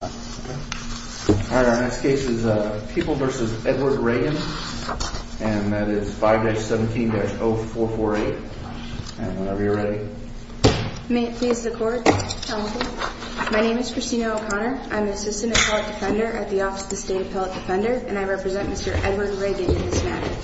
All right, our next case is People v. Edward Ragon, and that is 5-17-0448. Whenever you're ready. May it please the Court. My name is Christina O'Connor. I'm an assistant appellate defender at the Office of the State Appellate Defender, and I represent Mr. Edward Ragon in this matter.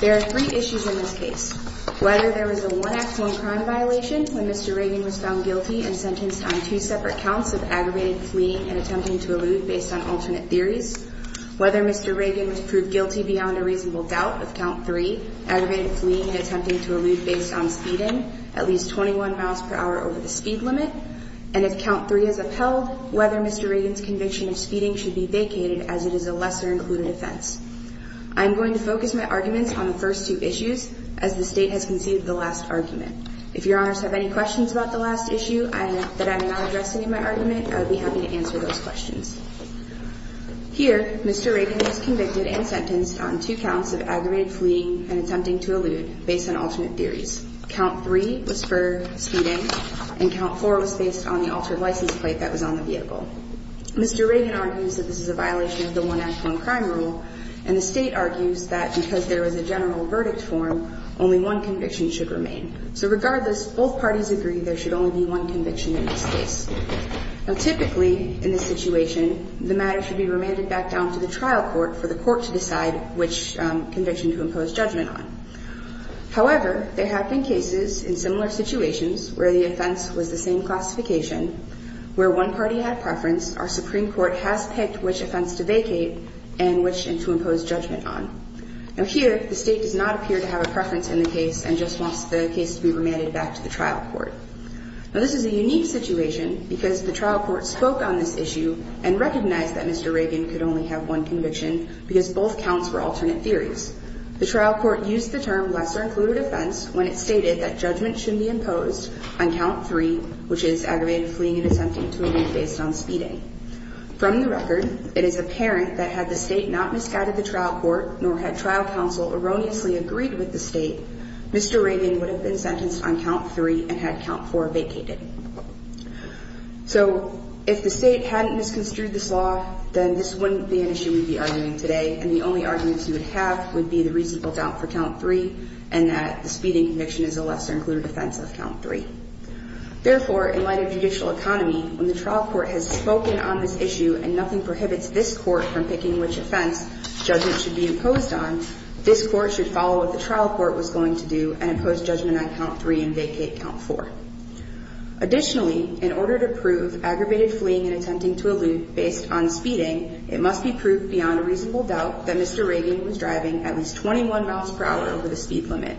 There are three issues in this case. Whether there was a one-act home crime violation when Mr. Ragon was found guilty and sentenced on two separate counts of aggravated fleeing and attempting to elude based on alternate theories. Whether Mr. Ragon was proved guilty beyond a reasonable doubt with count three, aggravated fleeing and attempting to elude based on speeding at least 21 miles per hour over the speed limit. And if count three is upheld, whether Mr. Ragon's conviction of speeding should be vacated as it is a lesser-included offense. I'm going to focus my arguments on the first two issues as the State has conceded the last argument. If Your Honors have any questions about the last issue that I may not address in my argument, I would be happy to answer those questions. Here, Mr. Ragon was convicted and sentenced on two counts of aggravated fleeing and attempting to elude based on alternate theories. Count three was for speeding, and count four was based on the altered license plate that was on the vehicle. Mr. Ragon argues that this is a violation of the one-act home crime rule, and the State argues that because there was a general verdict form, only one conviction should remain. So regardless, both parties agree there should only be one conviction in this case. Now, typically in this situation, the matter should be remanded back down to the trial court for the court to decide which conviction to impose judgment on. However, there have been cases in similar situations where the offense was the same classification, where one party had preference, our Supreme Court has picked which offense to vacate and which to impose judgment on. Now here, the State does not appear to have a preference in the case and just wants the case to be remanded back to the trial court. Now, this is a unique situation because the trial court spoke on this issue and recognized that Mr. Ragon could only have one conviction because both counts were alternate theories. The trial court used the term lesser-included offense when it stated that judgment should be imposed on count three, which is aggravated fleeing and attempting to elude based on speeding. From the record, it is apparent that had the State not misguided the trial court nor had trial counsel erroneously agreed with the State, Mr. Ragon would have been sentenced on count three and had count four vacated. So if the State hadn't misconstrued this law, then this wouldn't be an issue we'd be arguing today, and the only arguments you would have would be the reasonable doubt for count three and that the speeding conviction is a lesser-included offense of count three. Therefore, in light of judicial economy, when the trial court has spoken on this issue and nothing prohibits this court from picking which offense judgment should be imposed on, this court should follow what the trial court was going to do and impose judgment on count three and vacate count four. Additionally, in order to prove aggravated fleeing and attempting to elude based on speeding, it must be proved beyond a reasonable doubt that Mr. Ragon was driving at least 21 miles per hour over the speed limit.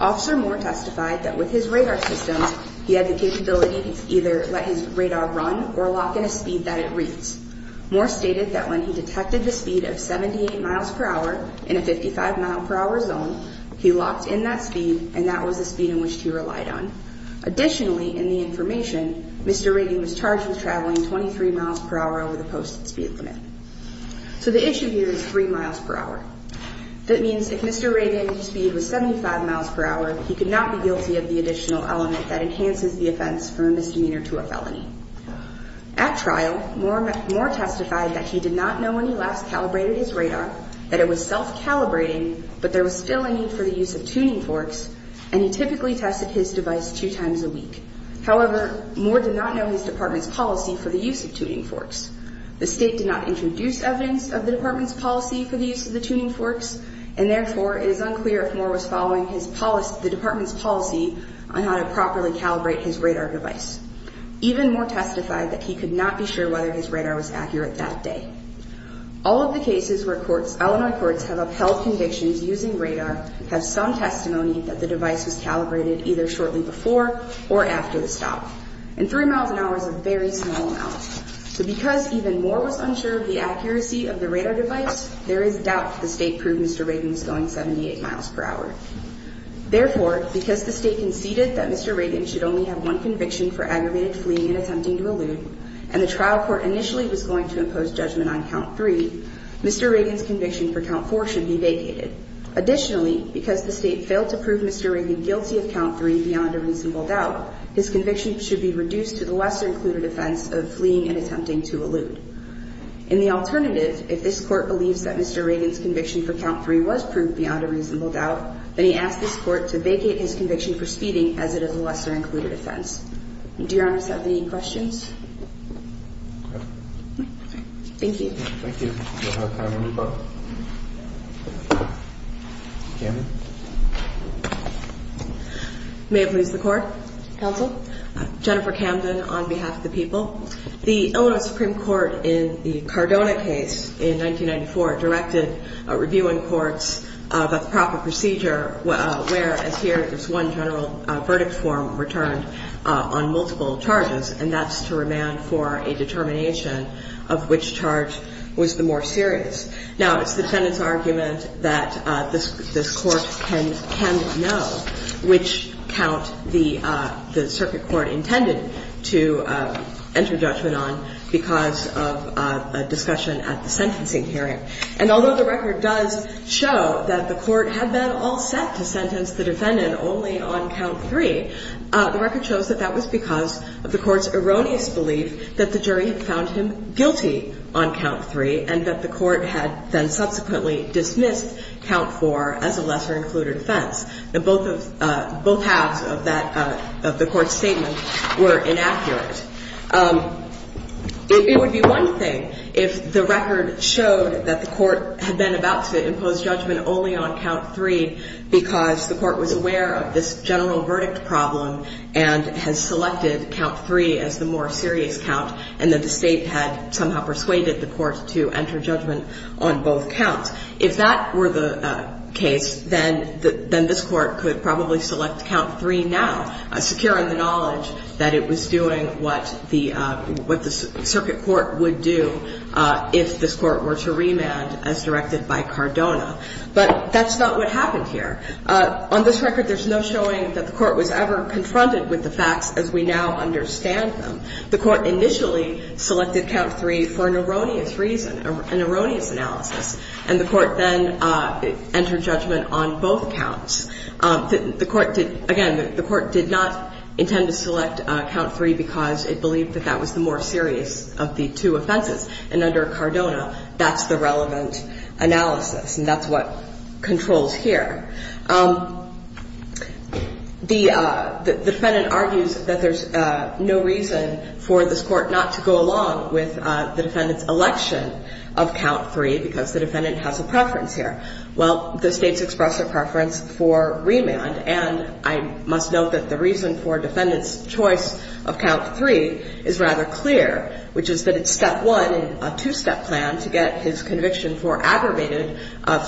Officer Moore testified that with his radar systems, he had the capability to either let his radar run or lock in a speed that it reads. Moore stated that when he detected the speed of 78 miles per hour in a 55-mile-per-hour zone, he locked in that speed, and that was the speed in which he relied on. Additionally, in the information, Mr. Ragon was charged with traveling 23 miles per hour over the posted speed limit. So the issue here is three miles per hour. That means if Mr. Ragon's speed was 75 miles per hour, he could not be guilty of the additional element that enhances the offense from a misdemeanor to a felony. At trial, Moore testified that he did not know when he last calibrated his radar, that it was self-calibrating, but there was still a need for the use of tuning forks, and he typically tested his device two times a week. However, Moore did not know his department's policy for the use of tuning forks. The state did not introduce evidence of the department's policy for the use of the tuning forks, and therefore, it is unclear if Moore was following the department's policy on how to properly calibrate his radar device. Even Moore testified that he could not be sure whether his radar was accurate that day. All of the cases where Illinois courts have upheld convictions using radar have some testimony that the device was calibrated either shortly before or after the stop, and three miles an hour is a very small amount. So because even Moore was unsure of the accuracy of the radar device, there is doubt that the state proved Mr. Ragon was going 78 miles per hour. Therefore, because the state conceded that Mr. Ragon should only have one conviction for aggravated fleeing and attempting to elude, and the trial court initially was going to impose judgment on Count 3, Mr. Ragon's conviction for Count 4 should be vacated. Additionally, because the state failed to prove Mr. Ragon guilty of Count 3 beyond a reasonable doubt, his conviction should be reduced to the lesser-included offense of fleeing and attempting to elude. In the alternative, if this Court believes that Mr. Ragon's conviction for Count 3 was proved beyond a reasonable doubt, then he asks this Court to vacate his conviction for speeding as it is a lesser-included offense. Do Your Honors have any questions? Thank you. Thank you. We'll have time to move on. Camden. May it please the Court. Counsel. Jennifer Camden on behalf of the people. The Illinois Supreme Court in the Cardona case in 1994 directed a review in courts about the proper procedure where, as here, there's one general verdict form returned on multiple charges, and that's to remand for a determination of which charge was the more serious. Now, it's the defendant's argument that this Court can know which count the circuit court intended to enter judgment on because of a discussion at the sentencing hearing. And although the record does show that the Court had been all set to sentence the defendant only on Count 3, the record shows that that was because of the Court's erroneous belief that the jury had found him guilty on Count 3 and that the Court had then subsequently dismissed Count 4 as a lesser-included offense. Both halves of the Court's statement were inaccurate. It would be one thing if the record showed that the Court had been about to impose judgment only on Count 3 because the Court was aware of this general verdict problem and has selected Count 3 as the more serious count and that the State had somehow persuaded the Court to enter judgment on both counts. If that were the case, then this Court could probably select Count 3 now, securing the knowledge that it was doing what the circuit court would do if this Court were to remand as directed by Cardona. But that's not what happened here. On this record, there's no showing that the Court was ever confronted with the facts as we now understand them. The Court initially selected Count 3 for an erroneous reason, an erroneous analysis, and the Court then entered judgment on both counts. Again, the Court did not intend to select Count 3 because it believed that that was the more serious of the two offenses. And under Cardona, that's the relevant analysis, and that's what controls here. The defendant argues that there's no reason for this Court not to go along with the defendant's election of Count 3 because the defendant has a preference here. Well, the State's expressed a preference for remand, and I must note that the reason for a defendant's choice of Count 3 is rather clear, which is that it's step one in a two-step plan to get his conviction for aggravated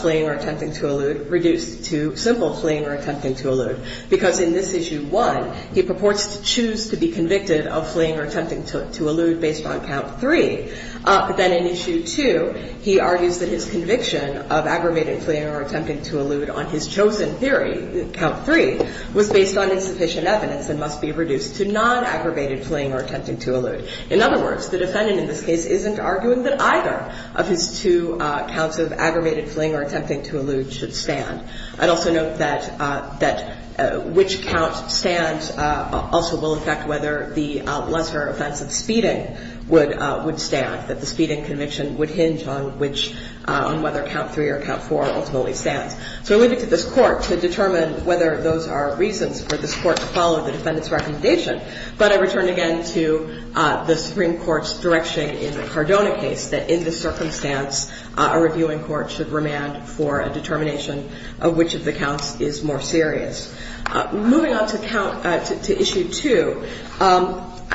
fleeing or attempting to elude reduced to simple fleeing or attempting to elude. Because in this Issue 1, he purports to choose to be convicted of fleeing or attempting to elude based on Count 3. Then in Issue 2, he argues that his conviction of aggravated fleeing or attempting to elude on his chosen theory, Count 3, was based on insufficient evidence and must be reduced to non-aggravated fleeing or attempting to elude. In other words, the defendant in this case isn't arguing that either of his two counts of aggravated fleeing or attempting to elude should stand. I'd also note that which count stands also will affect whether the lesser offense of speeding would stand, that the speeding conviction would hinge on which – on whether Count 3 or Count 4 ultimately stands. So I leave it to this Court to determine whether those are reasons for this Court to follow the defendant's recommendation. But I return again to the Supreme Court's direction in the Cardona case that in this circumstance, a reviewing court should remand for a determination of which of the counts is more serious. Moving on to Count – to Issue 2,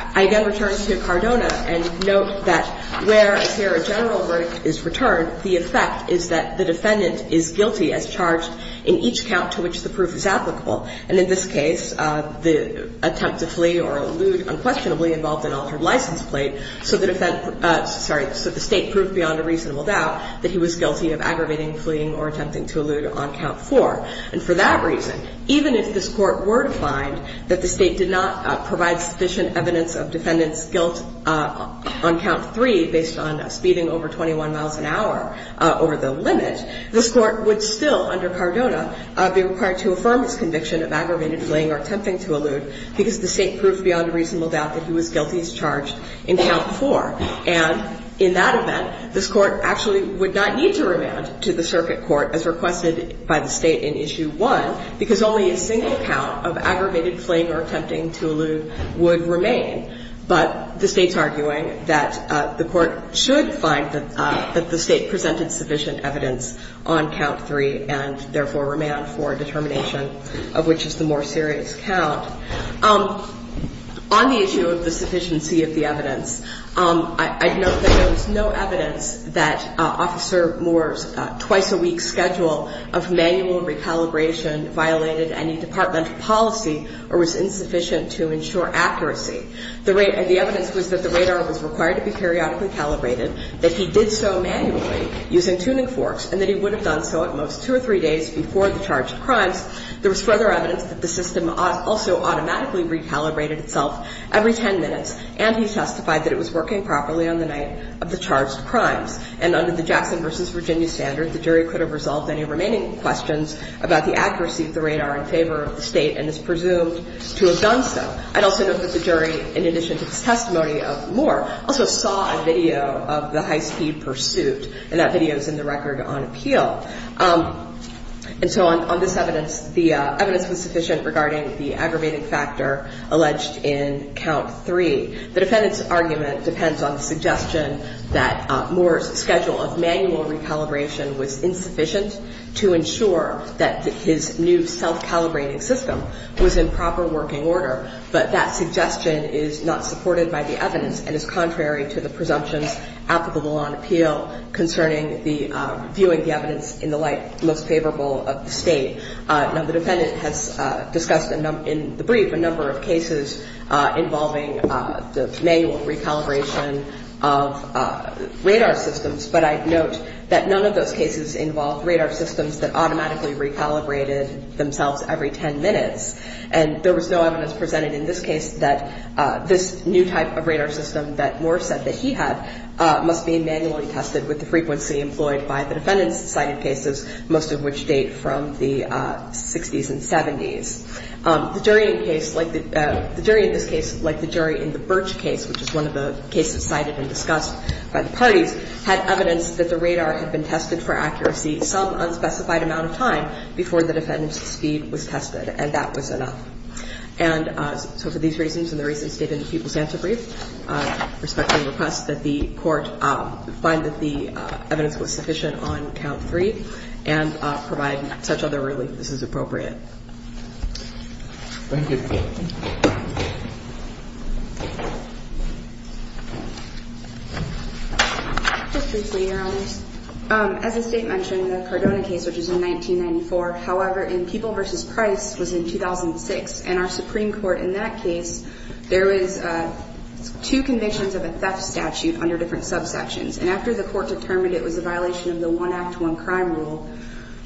I again return to Cardona and note that where a general verdict is returned, the effect is that the defendant is guilty as charged in each count to which the proof is applicable. And in this case, the attempt to flee or elude unquestionably involved an altered license plate, so the state proved beyond a reasonable doubt that he was guilty of aggravating fleeing or attempting to elude on Count 4. And for that reason, even if this Court were to find that the state did not provide sufficient evidence of defendant's guilt on Count 3 based on speeding over 21 miles an hour over the limit, this Court would still, under Cardona, be required to affirm its conviction of aggravated fleeing or attempting to elude because the state proved beyond a reasonable doubt that he was guilty as charged in Count 4. And in that event, this Court actually would not need to remand to the circuit court as requested by the State in Issue 1 because only a single count of aggravated fleeing or attempting to elude would remain. But the State's arguing that the Court should find that the State presented sufficient evidence on Count 3 and therefore remand for a determination of which is the more serious count. On the issue of the sufficiency of the evidence, I note that there was no evidence that Officer Moore's twice-a-week schedule of manual recalibration violated any departmental policy or was insufficient to ensure accuracy. The evidence was that the radar was required to be periodically calibrated, that he did so manually using tuning forks, and that he would have done so at most two or three days before the charged crimes. There was further evidence that the system also automatically recalibrated itself every 10 minutes, and he testified that it was working properly on the night of the charged crimes. And under the Jackson v. Virginia standard, the jury could have resolved any remaining questions about the accuracy of the radar in favor of the State and is presumed to have done so. I'd also note that the jury, in addition to this testimony of Moore, also saw a video of the high-speed pursuit, and that video is in the record on appeal. And so on this evidence, the evidence was sufficient regarding the aggravated factor alleged in Count 3. The defendant's argument depends on the suggestion that Moore's schedule of manual recalibration was insufficient to ensure that his new self-calibrating system was in proper working order, but that suggestion is not supported by the evidence and is contrary to the presumptions applicable on appeal concerning viewing the evidence in the light most favorable of the State. Now, the defendant has discussed in the brief a number of cases involving the manual recalibration of radar systems, but I note that none of those cases involved radar systems that automatically recalibrated themselves every 10 minutes. And there was no evidence presented in this case that this new type of radar system that Moore said that he had must be manually tested with the frequency employed by the defendant's cited cases, most of which date from the 60s and 70s. The jury in this case, like the jury in the Birch case, which is one of the cases cited and discussed by the parties, had evidence that the radar had been tested for accuracy some unspecified amount of time before the defendant's speed was tested, and that was enough. And so for these reasons and the reasons stated in the People's Answer Brief, I respectfully request that the Court find that the evidence was sufficient on Count 3 and provide such other relief as is appropriate. Thank you. Just briefly, Your Honors, as the State mentioned, the Cardona case, which was in 1994, however, in People v. Price was in 2006, and our Supreme Court in that case, there was two convictions of a theft statute under different subsections. And after the Court determined it was a violation of the one act, one crime rule,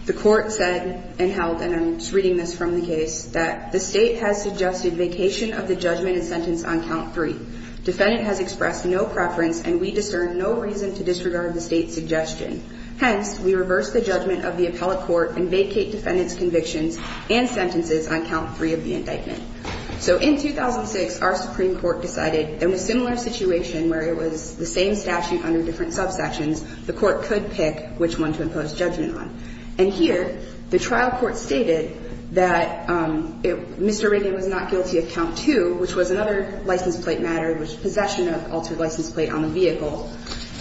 the Court said and held, and I'm reading this from the case, that the State has suggested vacation of the judgment and sentence on Count 3. Defendant has expressed no preference, and we discern no reason to disregard the State's suggestion. Hence, we reverse the judgment of the appellate court and vacate defendant's convictions and sentences on Count 3 of the indictment. So in 2006, our Supreme Court decided, in a similar situation where it was the same statute under different subsections, the Court could pick which one to impose judgment on. And here, the trial court stated that Mr. Redding was not guilty of Count 2, which was another license plate matter, which is possession of altered license plate on the vehicle,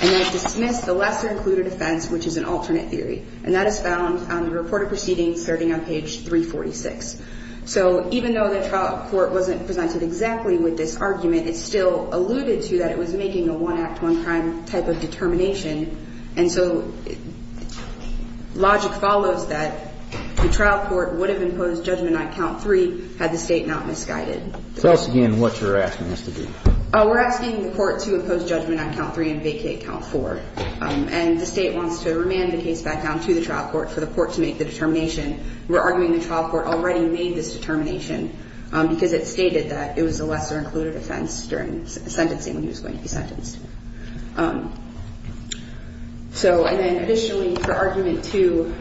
and has dismissed the lesser included offense, which is an alternate theory. And that is found on the reported proceedings starting on page 346. So even though the trial court wasn't presented exactly with this argument, it still alluded to that it was making a one act, one crime type of determination. And so logic follows that the trial court would have imposed judgment on Count 3 had the State not misguided. Tell us again what you're asking us to do. We're asking the Court to impose judgment on Count 3 and vacate Count 4. And the State wants to remand the case back down to the trial court for the Court to make the determination. We're arguing the trial court already made this determination because it stated that it was a lesser included offense during sentencing when he was going to be sentenced. So and then additionally, for argument 2,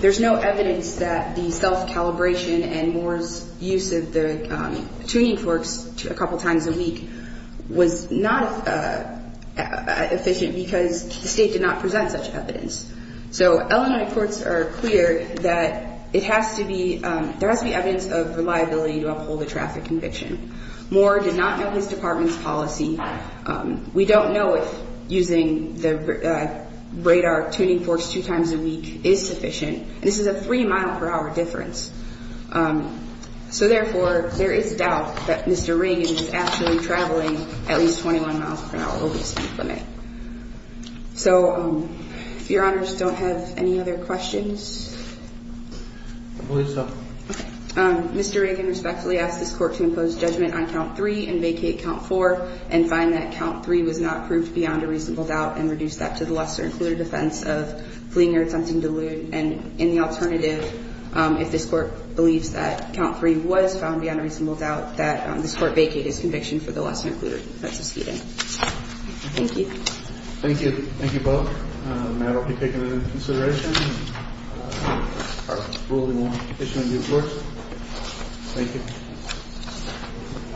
there's no evidence that the self-calibration and Moore's use of the tuning forks a couple times a week was not efficient because the State did not present such evidence. So Illinois courts are clear that it has to be there has to be evidence of reliability to uphold the traffic conviction. Moore did not know his department's policy. We don't know if using the radar tuning forks two times a week is sufficient. This is a three mile per hour difference. So therefore, there is doubt that Mr. Reagan is actually traveling at least 21 miles per hour over the speed limit. All right. So if your honors don't have any other questions. I believe so. Mr. Reagan respectfully asked this Court to impose judgment on Count 3 and vacate Count 4 and find that Count 3 was not proved beyond a reasonable doubt and reduce that to the lesser included offense of fleeing or attempting to elude. And in the alternative, if this Court believes that Count 3 was found beyond a reasonable doubt, that this Court vacate his conviction for the lesser included offense of fleeing. Thank you. Thank you. Thank you both. The matter will be taken into consideration. Our ruling will be issued in due course. Thank you.